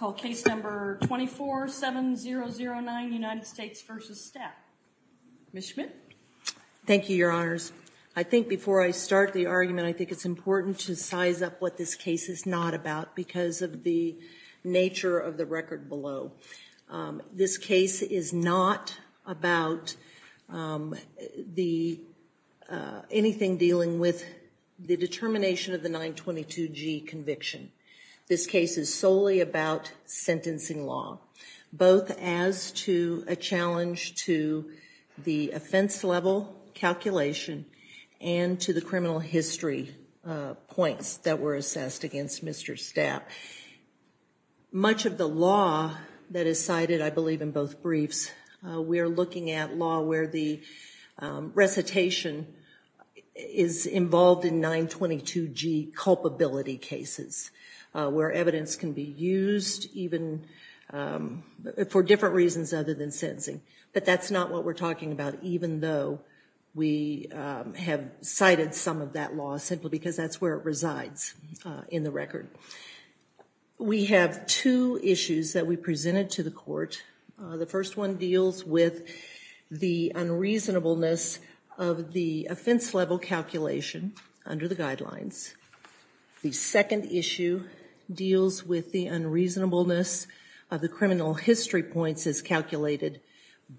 Thank you, your honors. I think before I start the argument, I think it's important to size up what this case is not about because of the nature of the record below. This case is not about the anything dealing with the determination of the 922 G conviction. This case is solely about sentencing law, both as to a challenge to the offense level calculation and to the criminal history points that were assessed against Mr. Stapp. Much of the law that is cited, I believe in both briefs, we are looking at law where the recitation is involved in 922 G culpability cases, where evidence can be used even for different reasons other than sentencing, but that's not what we're talking about even though we have cited some of that law simply because that's where it resides in the record. We have two issues that we presented to the court. The first one deals with the unreasonableness of the offense level calculation under the guidelines. The second issue deals with the unreasonableness of the criminal history points as calculated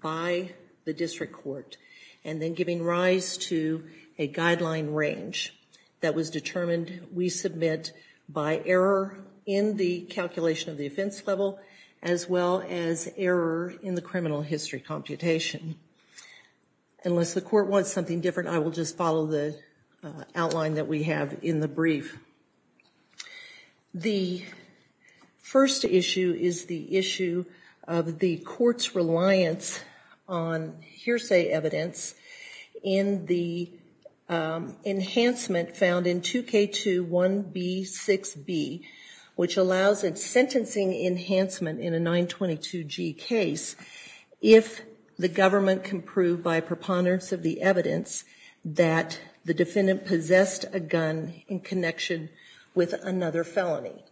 by the district court and then giving rise to a guideline range that was determined we submit by error in the calculation of the offense level as well as error in the criminal history computation. Unless the court wants something different, I will just follow the outline that we have in the brief. The first issue is the issue of the court's reliance on hearsay evidence in the enhancement found in 2K21B6B, which allows a sentencing enhancement in a 922 G case if the government can prove by preponderance of the evidence that the defendant possessed a gun in connection with an unlawful possession of a gun.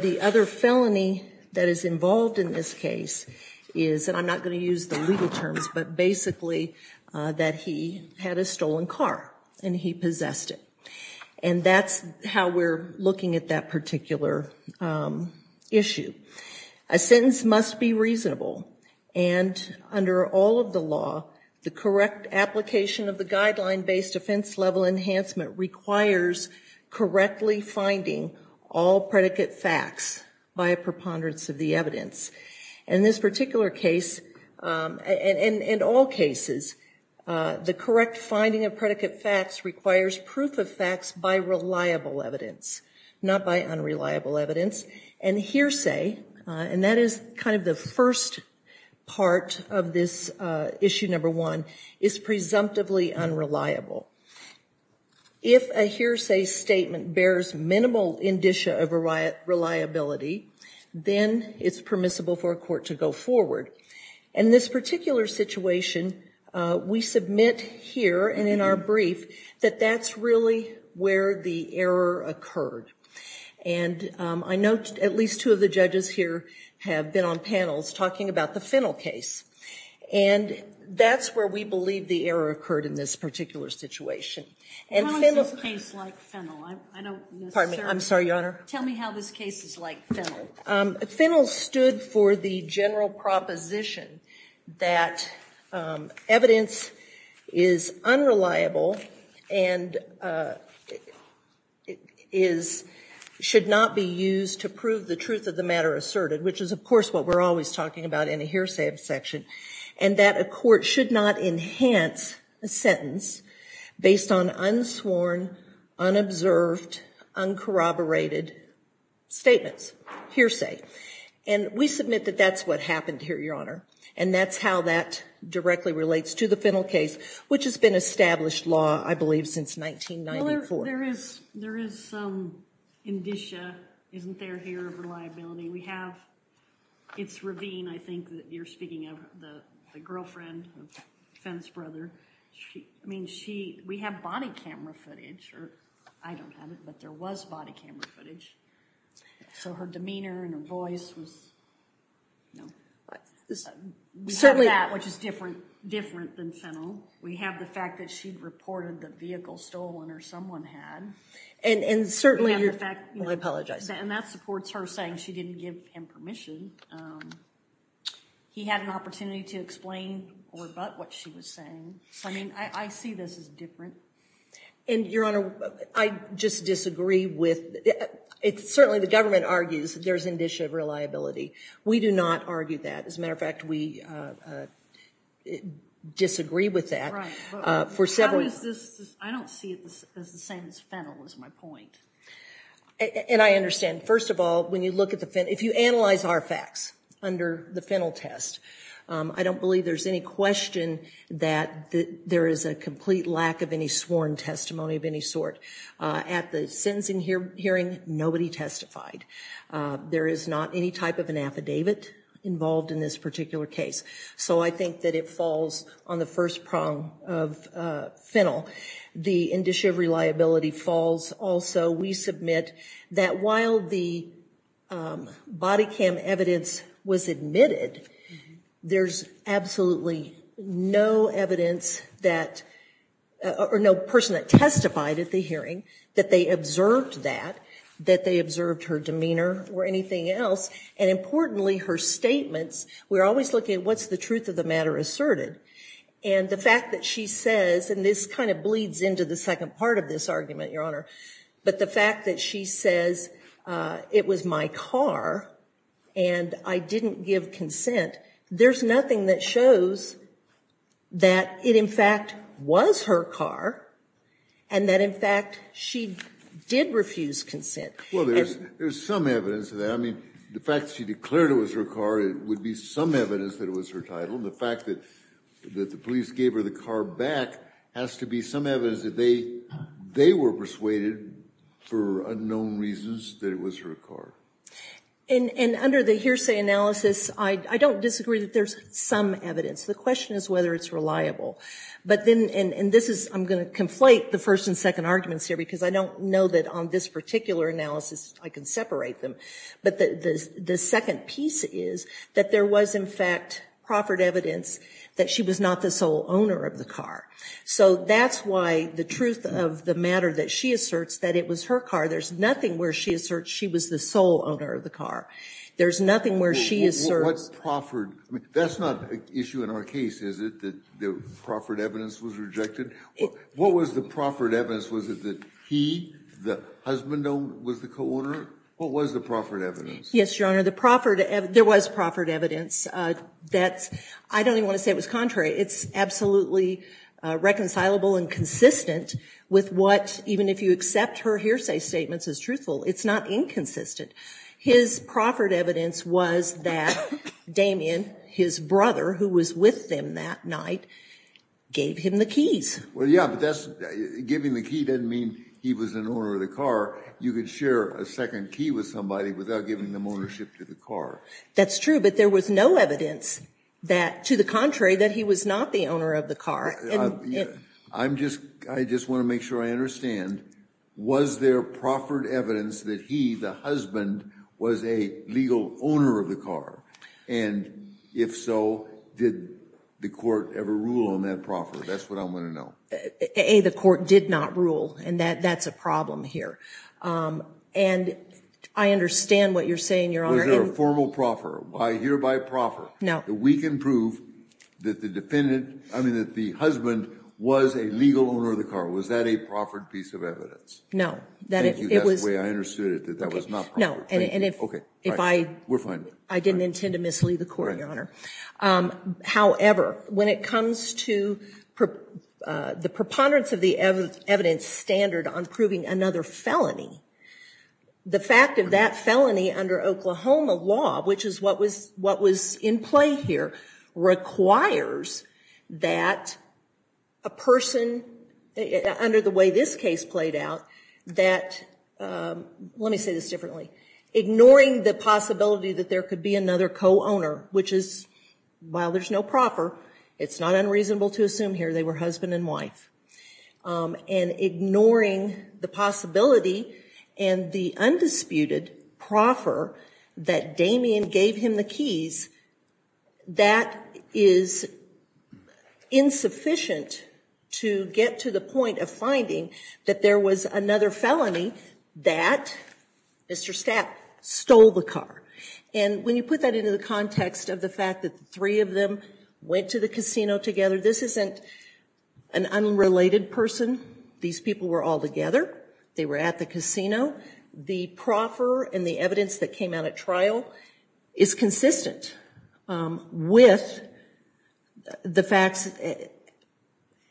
The other felony that is involved in this case is, and I'm not going to use the legal terms, but basically that he had a stolen car and he possessed it. That's how we're looking at that particular issue. A sentence must be reasonable and under all of the law, the correct application of the guideline-based offense level enhancement requires correctly finding all predicate facts by a preponderance of the evidence. In this particular case, and in all cases, the correct finding of predicate facts requires proof of facts by reliable evidence, not by unreliable evidence. And hearsay, and that is kind of the first part of this issue number one, is presumptively unreliable. If a hearsay statement bears minimal indicia of reliability, then it's permissible for a court to go forward. In this particular situation, we submit here and in our brief that that's really where the error occurred. And I note at least two of the judges here have been on panels talking about the Fennel case. And that's where we believe the error occurred in this particular situation. And Fennel- How is this case like Fennel? I don't necessarily- Pardon me, I'm sorry, Your Honor. Tell me how this case is like Fennel. Fennel stood for the general proposition that evidence is unreliable and should not be used to prove the truth of the matter asserted, which is of course what we're always talking about in a hearsay section, and that a court should not enhance a sentence based on unsworn, unobserved, uncorroborated statements, hearsay. And we submit that that's what happened here, Your Honor. And that's how that directly relates to the Fennel case, which has been established law, I believe, since 1994. There is some indicia, isn't there, here of reliability. We have- it's Ravine, I think, that you're speaking of, the girlfriend of Fennel's brother. I mean, we have body camera footage, or I don't have it, but there was body camera footage. So her demeanor and her voice was- We have that, which is different than Fennel. We have the fact that she'd reported the vehicle stolen or someone had. And certainly- We have the fact- Well, I apologize. And that supports her saying she didn't give him permission. He had an opportunity to explain or rebut what she was saying. I mean, I see this as different. And, Your Honor, I just disagree with- Certainly, the government argues there's indicia of reliability. We do not argue that. As a matter of fact, we disagree with that. Right. For several- I don't see it as the same as Fennel, is my point. And I understand. First of all, when you look at the Fennel- If you analyze our facts under the Fennel test, I don't believe there's any question that there is a complete lack of any sworn testimony of any sort. At the sentencing hearing, nobody testified. There is not any type of an affidavit involved in this particular case. So I think that it falls on the first prong of Fennel. The indicia of reliability falls also. We submit that while the body cam evidence was admitted, there's absolutely no evidence that- or no person that testified at the hearing that they observed that, that they observed her demeanor or anything else. And importantly, her statements- We're always looking at what's the truth of the matter asserted. And the fact that she says- And this kind of bleeds into the second part of this argument, Your Honor. But the fact that she says, it was my car and I didn't give consent. There's nothing that shows that it, in fact, was her car. And that, in fact, she did refuse consent. Well, there's some evidence of that. I mean, the fact that she declared it was her car would be some evidence that it was her title. And the fact that the police gave her the car back has to be some evidence that they were persuaded, for unknown reasons, that it was her car. And under the hearsay analysis, I don't disagree that there's some evidence. The question is whether it's reliable. But then- and this is- I'm going to conflate the first and second arguments here because I don't know that on this particular analysis I can separate them. But the second piece is that there was, in fact, proffered evidence that she was not the sole owner of the car. So that's why the truth of the matter that she asserts that it was her car, there's nothing where she asserts she was the sole owner of the car. There's nothing where she asserts- What proffered- that's not an issue in our case, is it? That the proffered evidence was rejected? What was the proffered evidence? Was it that he, the husband was the co-owner? What was the proffered evidence? Yes, Your Honor, the proffered- there was proffered evidence. That's- I don't even want to say it was contrary. It's absolutely reconcilable and consistent with what, even if you accept her hearsay statements as truthful, it's not inconsistent. His proffered evidence was that Damien, his brother, who was with them that night, gave him the keys. Well, yeah, but that's- giving the key doesn't mean he was an owner of the car. You could share a second key with somebody without giving them ownership to the car. That's true, but there was no evidence that, to the contrary, that he was not the owner of the car. I'm just- I just want to make sure I understand. Was there proffered evidence that he, the husband, was a legal owner of the car? And if so, did the court ever rule on that proffered? That's what I want to know. A, the court did not rule, and that's a problem here. And I understand what you're saying, Your Honor. Was there a formal proffer? I hear by proffer that we can prove that the defendant- I mean, that the husband was a legal owner of the car. Was that a proffered piece of evidence? No, that it was- Thank you, that's the way I understood it, that that was not proffered. No, and if I- We're fine. I didn't intend to mislead the court, Your Honor. However, when it comes to the preponderance of the evidence standard on proving another felony, the fact of that felony under Oklahoma law, which is what was in play here, requires that a person, under the way this case played out, that- let me say this differently- ignoring the possibility that there could be another co-owner, which is, while there's no proffer, it's not unreasonable to assume here they were husband and wife, and ignoring the possibility and the undisputed proffer that Damien gave him the keys, that is insufficient to get to the point of finding that there was another felony that Mr. Stapp stole the car. And when you put that into the context of the fact that three of them went to the casino together, this isn't an unrelated person. These people were all together. They were at the casino. The proffer and the evidence that came out at trial is consistent with the facts.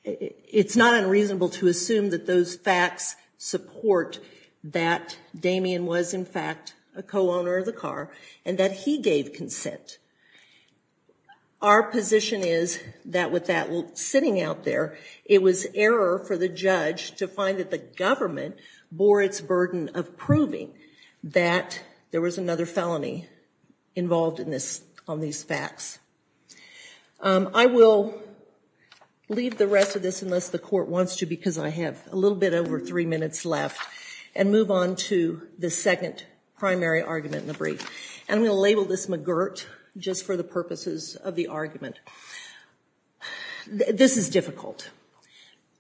It's not unreasonable to assume that those facts support that Damien was, in fact, a co-owner of the car, and that he gave consent. Our position is that with that sitting out there, it was error for the judge to find that the government bore its burden of proving that there was another felony involved in this- on these facts. I will leave the rest of this unless the court wants to, because I have a little bit over three minutes left, and move on to the second primary argument in the brief. And I'm going to label this McGirt, just for the purposes of the argument. This is difficult.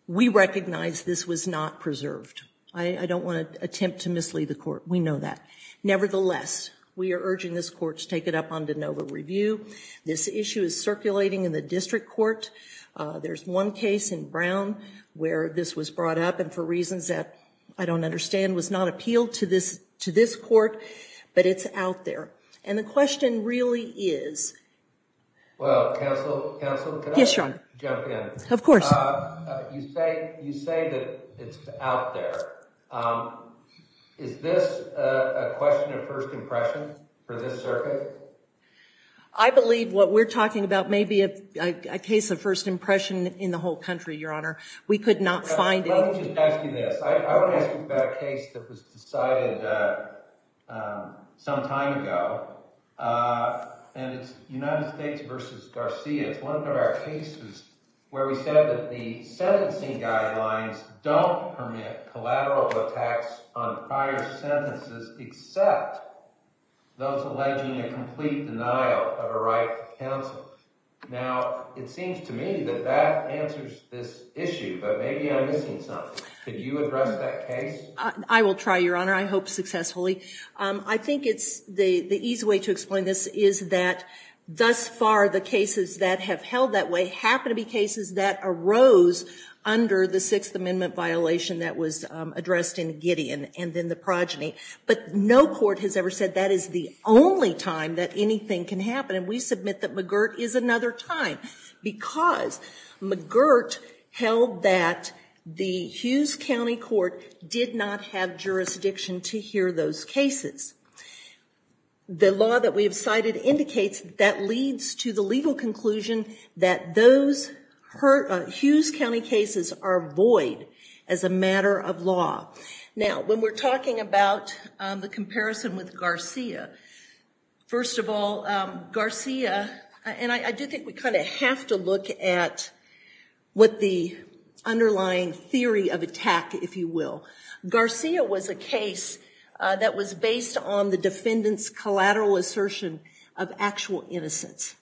We recognize this was not preserved. I don't want to attempt to mislead the court. We know that. Nevertheless, we are urging this court to take it up on de novo review. This issue is circulating in the district court. There's one case in Brown where this was brought up, and for reasons that I don't understand, was not appealed to this court, but it's out there. And the question really is- Well, counsel- Yes, Your Honor. Can I jump in? Of course. You say that it's out there. Is this a question of first impression for this circuit? I believe what we're talking about may be a case of first impression in the whole country, Your Honor. We could not find any- Let me just ask you this. I want to ask you about a case that was decided some time ago, and it's United States v. Garcia. It's one of our cases where we said that the sentencing guidelines don't permit collateral attacks on prior sentences except those alleging a complete denial of a right to counsel. Now, it seems to me that that answers this issue, but maybe I'm missing something. Could you address that case? I will try, Your Honor. I hope successfully. I think it's the easy way to explain this is that thus far the cases that have held that way happen to be cases that arose under the Sixth Amendment violation that was addressed in Gideon and then the progeny. But no court has ever said that is the only time that anything can happen, and we submit that McGirt is another time because McGirt held that the Hughes County Court did not have jurisdiction to hear those cases. The law that we have cited indicates that leads to the legal conclusion that those Hughes County cases are void as a matter of law. Now, when we're talking about the comparison with Garcia, first of all, Garcia- you have to look at what the underlying theory of attack, if you will. Garcia was a case that was based on the defendant's collateral assertion of actual innocence.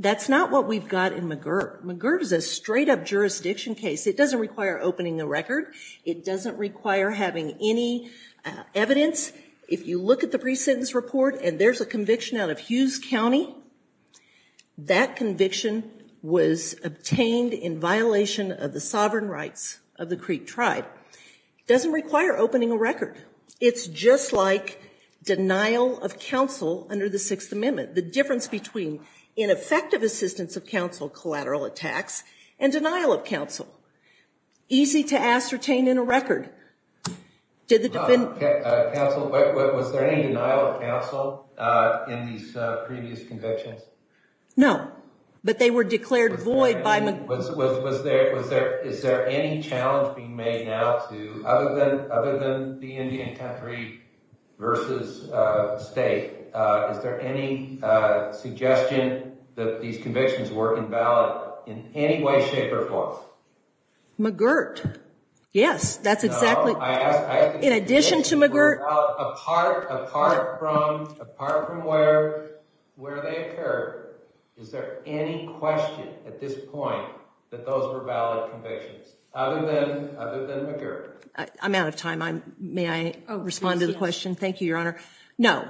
That's not what we've got in McGirt. McGirt is a straight-up jurisdiction case. It doesn't require opening the record. It doesn't require having any evidence. If you look at the pre-sentence report and there's a conviction out of Hughes County, that conviction was obtained in violation of the sovereign rights of the Creek tribe. It doesn't require opening a record. It's just like denial of counsel under the Sixth Amendment. The difference between ineffective assistance of counsel, collateral attacks, and denial of counsel. Easy to ascertain in a record. Did the defendant- Counsel, was there any denial of counsel in these previous convictions? No, but they were declared void by McGirt. Is there any challenge being made now to, other than the Indian country versus state, is there any suggestion that these convictions were invalid in any way, shape, or form? McGirt. Yes, that's exactly- No, I ask- In addition to McGirt- Apart from where they occurred, is there any question at this point that those were valid convictions? Other than McGirt. I'm out of time. May I respond to the question? Thank you, Your Honor. No,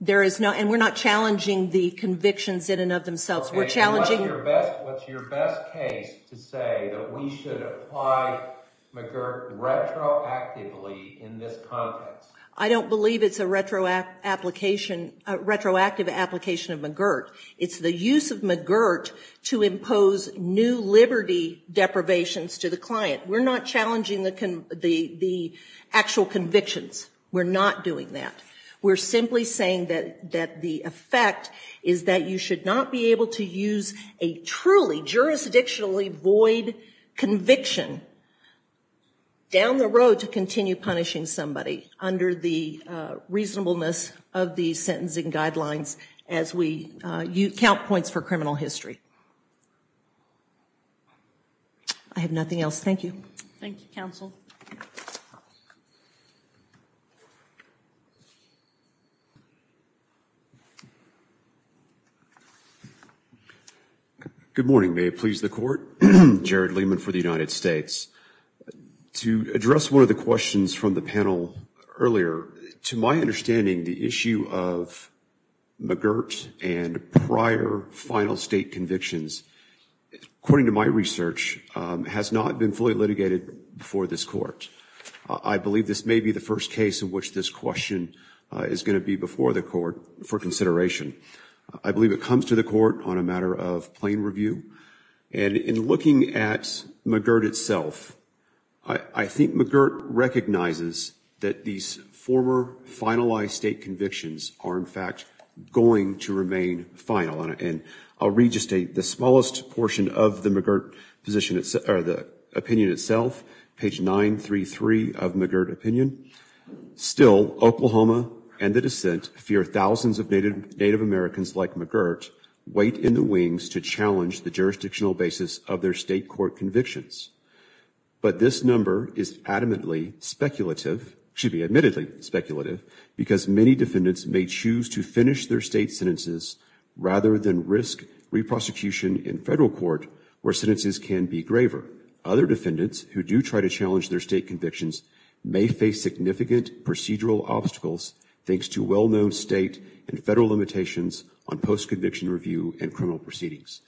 there is no- and we're not challenging the convictions in and of themselves. We're challenging- What's your best case to say that we should apply McGirt retroactively in this context? I don't believe it's a retroactive application of McGirt. It's the use of McGirt to impose new liberty deprivations to the client. We're not challenging the actual convictions. We're not doing that. We're simply saying that the effect is that you should not be able to use a truly jurisdictionally void conviction down the road to continue punishing somebody under the reasonableness of the sentencing guidelines as we count points for criminal history. I have nothing else. Thank you. Thank you, counsel. Good morning. May it please the court. Jared Lehman for the United States. To address one of the questions from the panel earlier, to my understanding, the issue of McGirt and prior final state convictions, according to my research, has not been fully litigated before this court. I believe this may be the first case in which this question is going to be before the court for consideration. I believe it comes to the court on a matter of plain review. And in looking at McGirt itself, I think McGirt recognizes that these former finalized state convictions are, in fact, going to remain final. And I'll read just the smallest portion of the McGirt opinion itself, page 933 of McGirt opinion. Still, Oklahoma and the dissent fear thousands of Native Americans like McGirt wait in the wings to challenge the jurisdictional basis of their state court convictions. But this number is adamantly speculative, should be admittedly speculative, because many defendants may choose to finish their state sentences rather than risk re-prosecution in federal court where sentences can be graver. Other defendants who do try to challenge their state convictions may face significant procedural obstacles thanks to well-known state and federal limitations on post-conviction review and criminal proceedings.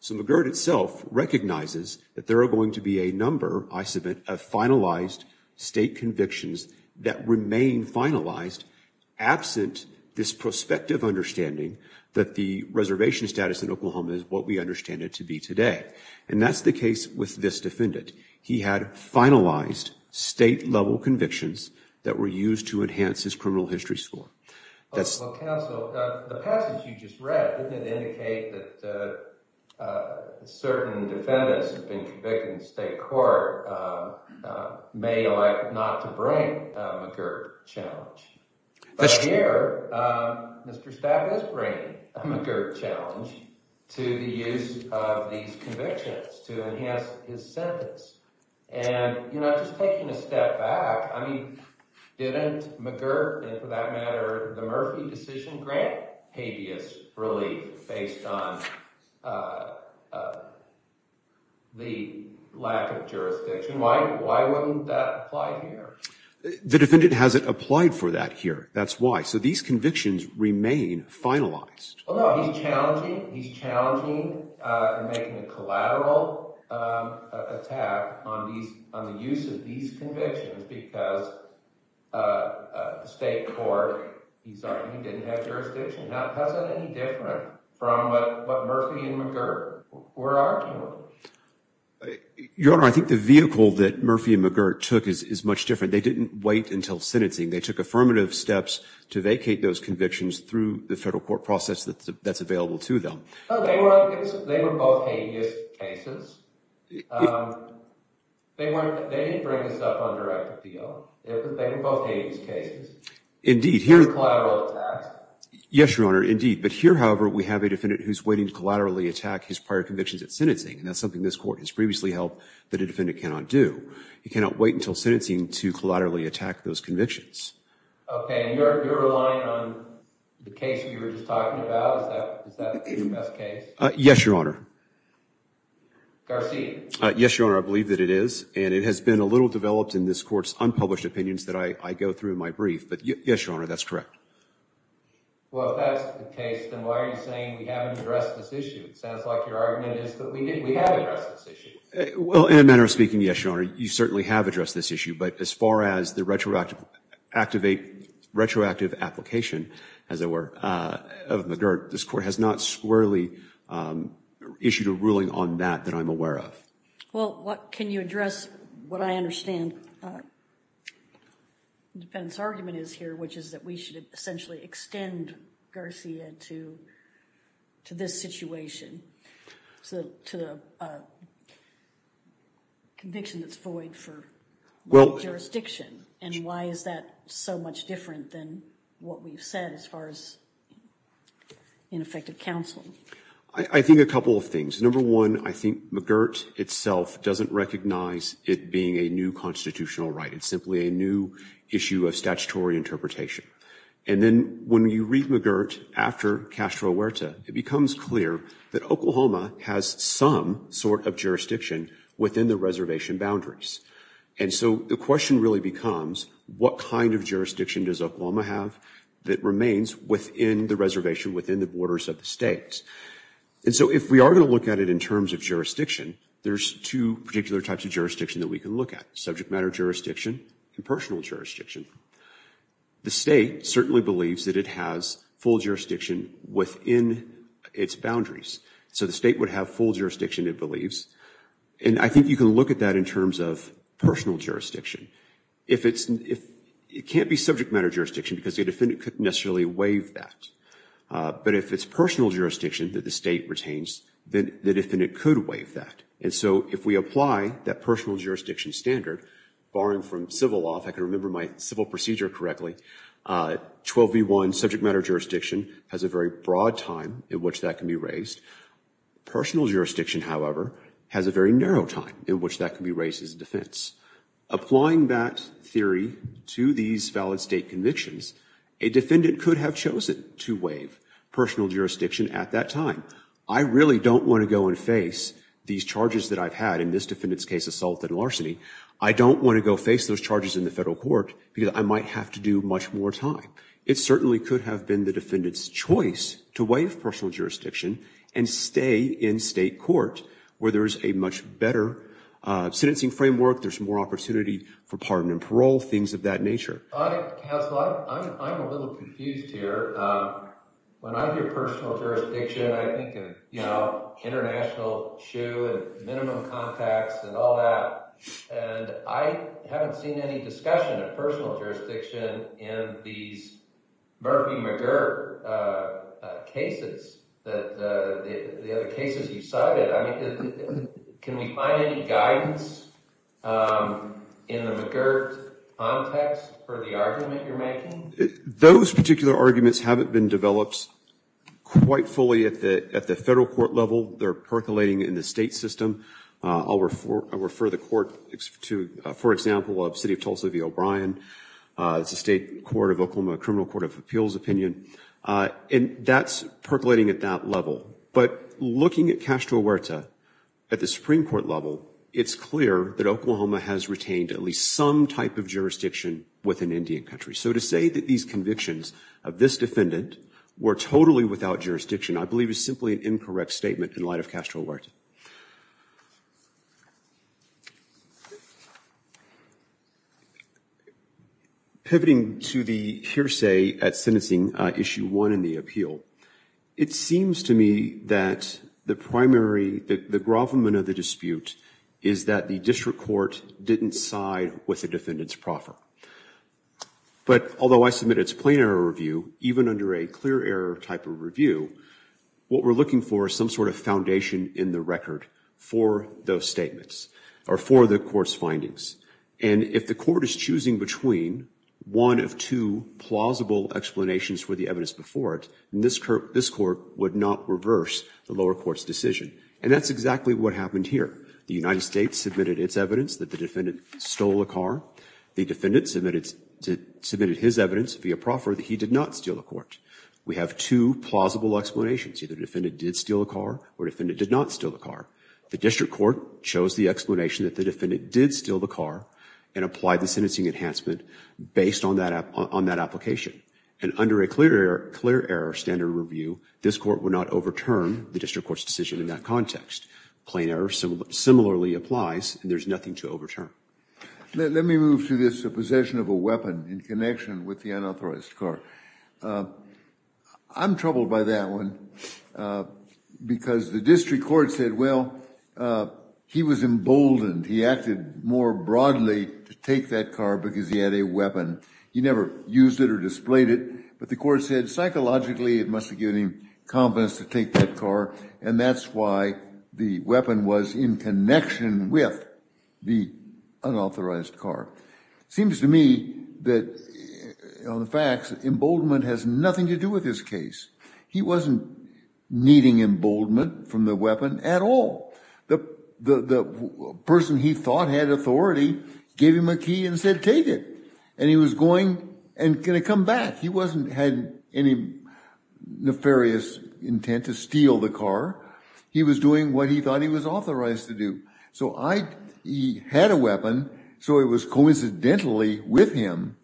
So McGirt itself recognizes that there are going to be a number, I submit, of finalized state convictions that remain finalized absent this prospective understanding that the reservation status in Oklahoma is what we understand it to be today. And that's the case with this defendant. He had finalized state-level convictions that were used to enhance his criminal history score. Well, counsel, the passage you just read, didn't it indicate that certain defendants who have been convicted in state court may elect not to bring a McGirt challenge? But here, Mr. Stapp is bringing a McGirt challenge to the use of these convictions to enhance his sentence. And, you know, just taking a step back, I mean, didn't McGirt, and for that matter the Murphy decision, grant habeas relief based on the lack of jurisdiction? Why wouldn't that apply here? The defendant hasn't applied for that here. That's why. So these convictions remain finalized. Well, no, he's challenging and making a collateral attack on the use of these convictions because the state court, he's arguing he didn't have jurisdiction. Now, how is that any different from what Murphy and McGirt were arguing? Your Honor, I think the vehicle that Murphy and McGirt took is much different. They didn't wait until sentencing. They took affirmative steps to vacate those convictions through the federal court process that's available to them. They were both habeas cases. They didn't bring this up on direct appeal. They were both habeas cases. Indeed. Collateral attacks. Yes, Your Honor, indeed. But here, however, we have a defendant who's waiting to collaterally attack his prior convictions at sentencing, and that's something this court has previously held that a defendant cannot do. He cannot wait until sentencing to collaterally attack those convictions. Okay. And you're relying on the case we were just talking about? Is that the best case? Yes, Your Honor. Garcia. Yes, Your Honor, I believe that it is, and it has been a little developed in this court's unpublished opinions that I go through in my brief, but yes, Your Honor, that's correct. Well, if that's the case, then why are you saying we haven't addressed this issue? It sounds like your argument is that we have addressed this issue. Well, in a manner of speaking, yes, Your Honor, you certainly have addressed this issue, but as far as the retroactive application, as it were, of McGirt, this court has not squarely issued a ruling on that that I'm aware of. Well, can you address what I understand the defendant's argument is here, which is that we should essentially extend Garcia to this situation, to the conviction that's void for one jurisdiction, and why is that so much different than what we've said as far as ineffective counseling? I think a couple of things. Number one, I think McGirt itself doesn't recognize it being a new constitutional right. It's simply a new issue of statutory interpretation. And then when you read McGirt after Castro Huerta, it becomes clear that Oklahoma has some sort of jurisdiction within the reservation boundaries. And so the question really becomes, what kind of jurisdiction does Oklahoma have that remains within the reservation, within the borders of the state? And so if we are going to look at it in terms of jurisdiction, there's two particular types of jurisdiction that we can look at, subject matter jurisdiction and personal jurisdiction. The state certainly believes that it has full jurisdiction within its boundaries. So the state would have full jurisdiction, it believes, and I think you can look at that in terms of personal jurisdiction. It can't be subject matter jurisdiction because the defendant couldn't necessarily waive that. But if it's personal jurisdiction that the state retains, the defendant could waive that. And so if we apply that personal jurisdiction standard, barring from civil law, if I can remember my civil procedure correctly, 12v1 subject matter jurisdiction has a very broad time in which that can be raised. Personal jurisdiction, however, has a very narrow time in which that can be raised as a defense. Applying that theory to these valid state convictions, a defendant could have chosen to waive personal jurisdiction at that time. I really don't want to go and face these charges that I've had in this defendant's case, assault and larceny. I don't want to go face those charges in the federal court because I might have to do much more time. It certainly could have been the defendant's choice to waive personal jurisdiction and stay in state court where there is a much better sentencing framework, there's more opportunity for pardon and parole, things of that nature. I'm a little confused here. When I hear personal jurisdiction, I think of international shoe and minimum contacts and all that. I haven't seen any discussion of personal jurisdiction in these Murphy-McGirt cases, the other cases you cited. Can we find any guidance in the McGirt context for the argument you're making? Those particular arguments haven't been developed quite fully at the federal court level. They're percolating in the state system. I'll refer the court to, for example, the city of Tulsa v. O'Brien. It's a state court of Oklahoma, a criminal court of appeals opinion. And that's percolating at that level. But looking at Castro Huerta at the Supreme Court level, it's clear that Oklahoma has retained at least some type of jurisdiction with an Indian country. So to say that these convictions of this defendant were totally without jurisdiction, I believe is simply an incorrect statement in light of Castro Huerta. Pivoting to the hearsay at sentencing issue one in the appeal, it seems to me that the primary, the grovelment of the dispute, is that the district court didn't side with the defendant's proffer. But although I submit it's a plain error review, even under a clear error type of review, what we're looking for is some sort of foundation in the record for those statements, or for the court's findings. And if the court is choosing between one of two plausible explanations for the evidence before it, then this court would not reverse the lower court's decision. And that's exactly what happened here. The United States submitted its evidence that the defendant stole a car. The defendant submitted his evidence via proffer that he did not steal a car. We have two plausible explanations. Either the defendant did steal a car, or the defendant did not steal a car. The district court chose the explanation that the defendant did steal the car and applied the sentencing enhancement based on that application. And under a clear error standard review, this court would not overturn the district court's decision in that context. Plain error similarly applies, and there's nothing to overturn. Let me move to this possession of a weapon in connection with the unauthorized car. I'm troubled by that one because the district court said, well, he was emboldened. He acted more broadly to take that car because he had a weapon. He never used it or displayed it, but the court said, psychologically, it must have given him confidence to take that car, and that's why the weapon was in connection with the unauthorized car. It seems to me that, on the facts, emboldenment has nothing to do with this case. He wasn't needing emboldenment from the weapon at all. The person he thought had authority gave him a key and said, take it. And he was going and going to come back. He wasn't had any nefarious intent to steal the car. He was doing what he thought he was authorized to do. So he had a weapon, so it was coincidentally with him.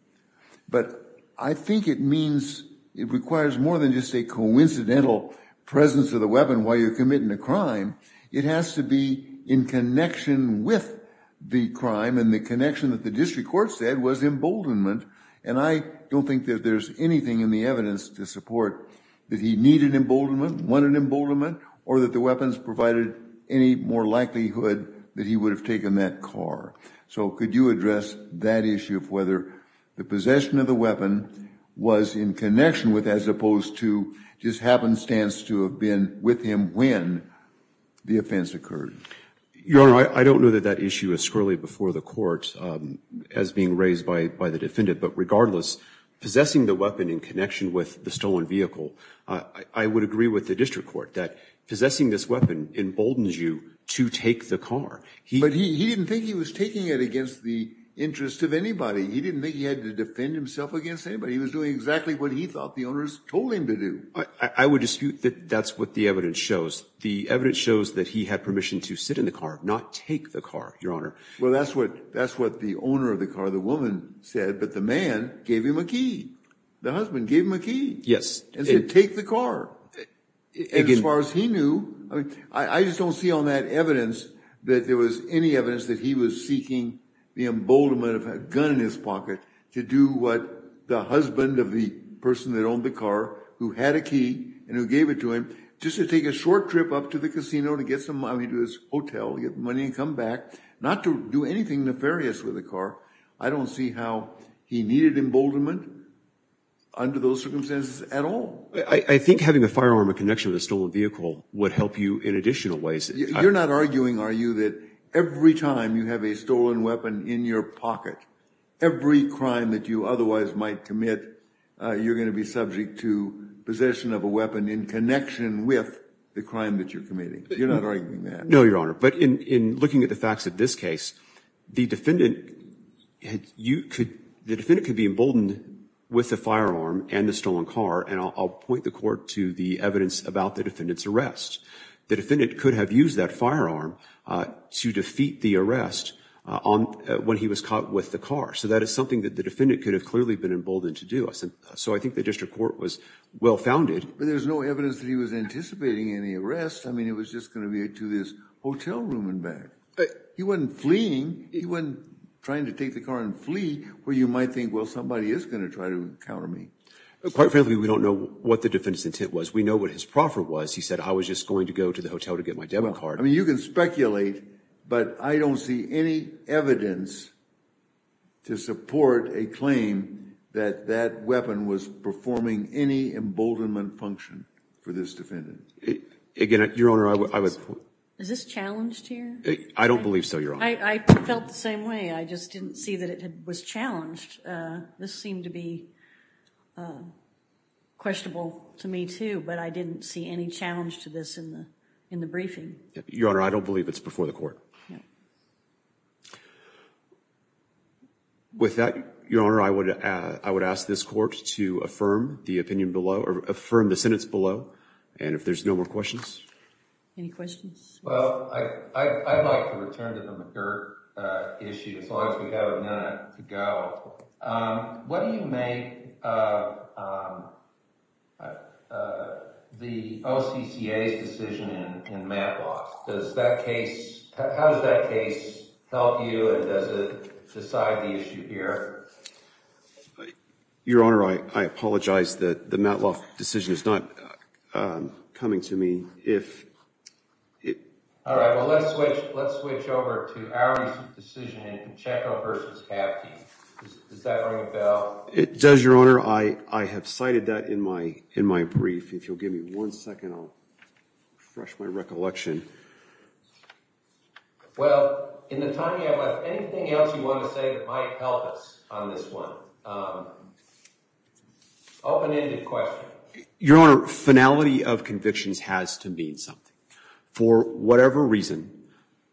But I think it means it requires more than just a coincidental presence of the weapon while you're committing a crime. It has to be in connection with the crime, and the connection that the district court said was emboldenment. And I don't think that there's anything in the evidence to support that he needed emboldenment, wanted emboldenment, or that the weapons provided any more likelihood that he would have taken that car. So could you address that issue of whether the possession of the weapon was in connection with, as opposed to just happenstance to have been with him when the offense occurred? Your Honor, I don't know that that issue is squarely before the court as being raised by the defendant. But regardless, possessing the weapon in connection with the stolen vehicle, I would agree with the district court that possessing this weapon emboldens you to take the car. But he didn't think he was taking it against the interest of anybody. He didn't think he had to defend himself against anybody. He was doing exactly what he thought the owners told him to do. I would dispute that that's what the evidence shows. The evidence shows that he had permission to sit in the car, not take the car, Your Honor. Well, that's what the owner of the car, the woman, said. But the man gave him a key. The husband gave him a key. Yes. And said, take the car. And as far as he knew, I just don't see on that evidence that there was any evidence that he was seeking the emboldenment of a gun in his pocket to do what the husband of the person that owned the car, who had a key and who gave it to him, just to take a short trip up to the casino to get some money to his hotel, get money and come back, not to do anything nefarious with the car. I don't see how he needed emboldenment under those circumstances at all. I think having a firearm in connection with a stolen vehicle would help you in additional ways. You're not arguing, are you, that every time you have a stolen weapon in your pocket, every crime that you otherwise might commit, you're going to be subject to possession of a weapon in connection with the crime that you're committing? You're not arguing that? No, Your Honor. But in looking at the facts of this case, the defendant could be emboldened with a firearm and the stolen car. And I'll point the Court to the evidence about the defendant's arrest. The defendant could have used that firearm to defeat the arrest when he was caught with the car. So that is something that the defendant could have clearly been emboldened to do. So I think the District Court was well-founded. But there's no evidence that he was anticipating any arrest. I mean, it was just going to be to this hotel room and back. He wasn't fleeing. He wasn't trying to take the car and flee where you might think, well, somebody is going to try to counter me. Quite frankly, we don't know what the defendant's intent was. We know what his proffer was. He said, I was just going to go to the hotel to get my debit card. I mean, you can speculate. But I don't see any evidence to support a claim that that weapon was performing any emboldenment function for this defendant. Again, Your Honor, I would— Is this challenged here? I don't believe so, Your Honor. I felt the same way. I just didn't see that it was challenged. This seemed to be questionable to me, too. But I didn't see any challenge to this in the briefing. Your Honor, I don't believe it's before the court. With that, Your Honor, I would ask this court to affirm the opinion below or affirm the sentence below. And if there's no more questions. Any questions? Well, I'd like to return to the McGirt issue as long as we have a minute to go. What do you make the OCCA's decision in Matloff? Does that case—how does that case help you and does it decide the issue here? Your Honor, I apologize. The Matloff decision is not coming to me. All right. Well, let's switch over to our decision in Chacon v. Hapke. Does that ring a bell? It does, Your Honor. I have cited that in my brief. If you'll give me one second, I'll refresh my recollection. Well, in the time we have left, anything else you want to say that might help us on this one? Open-ended question. Your Honor, finality of convictions has to mean something. For whatever reason,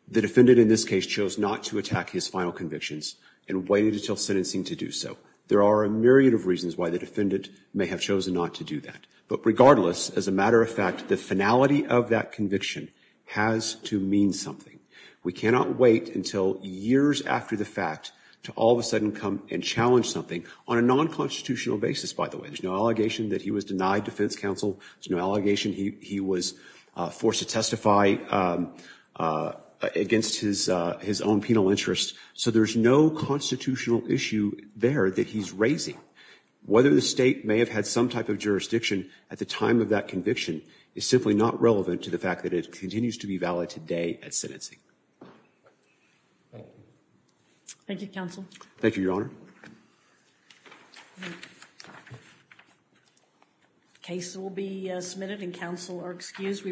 the defendant in this case chose not to attack his final convictions and waited until sentencing to do so. There are a myriad of reasons why the defendant may have chosen not to do that. But regardless, as a matter of fact, the finality of that conviction has to mean something. We cannot wait until years after the fact to all of a sudden come and challenge something on a non-constitutional basis, by the way. There's no allegation that he was denied defense counsel. There's no allegation he was forced to testify against his own penal interest. So there's no constitutional issue there that he's raising. Whether the state may have had some type of jurisdiction at the time of that conviction is simply not relevant to the fact that it continues to be valid today at sentencing. Thank you. Thank you, Counsel. Thank you, Your Honor. Cases will be submitted and counsel are excused.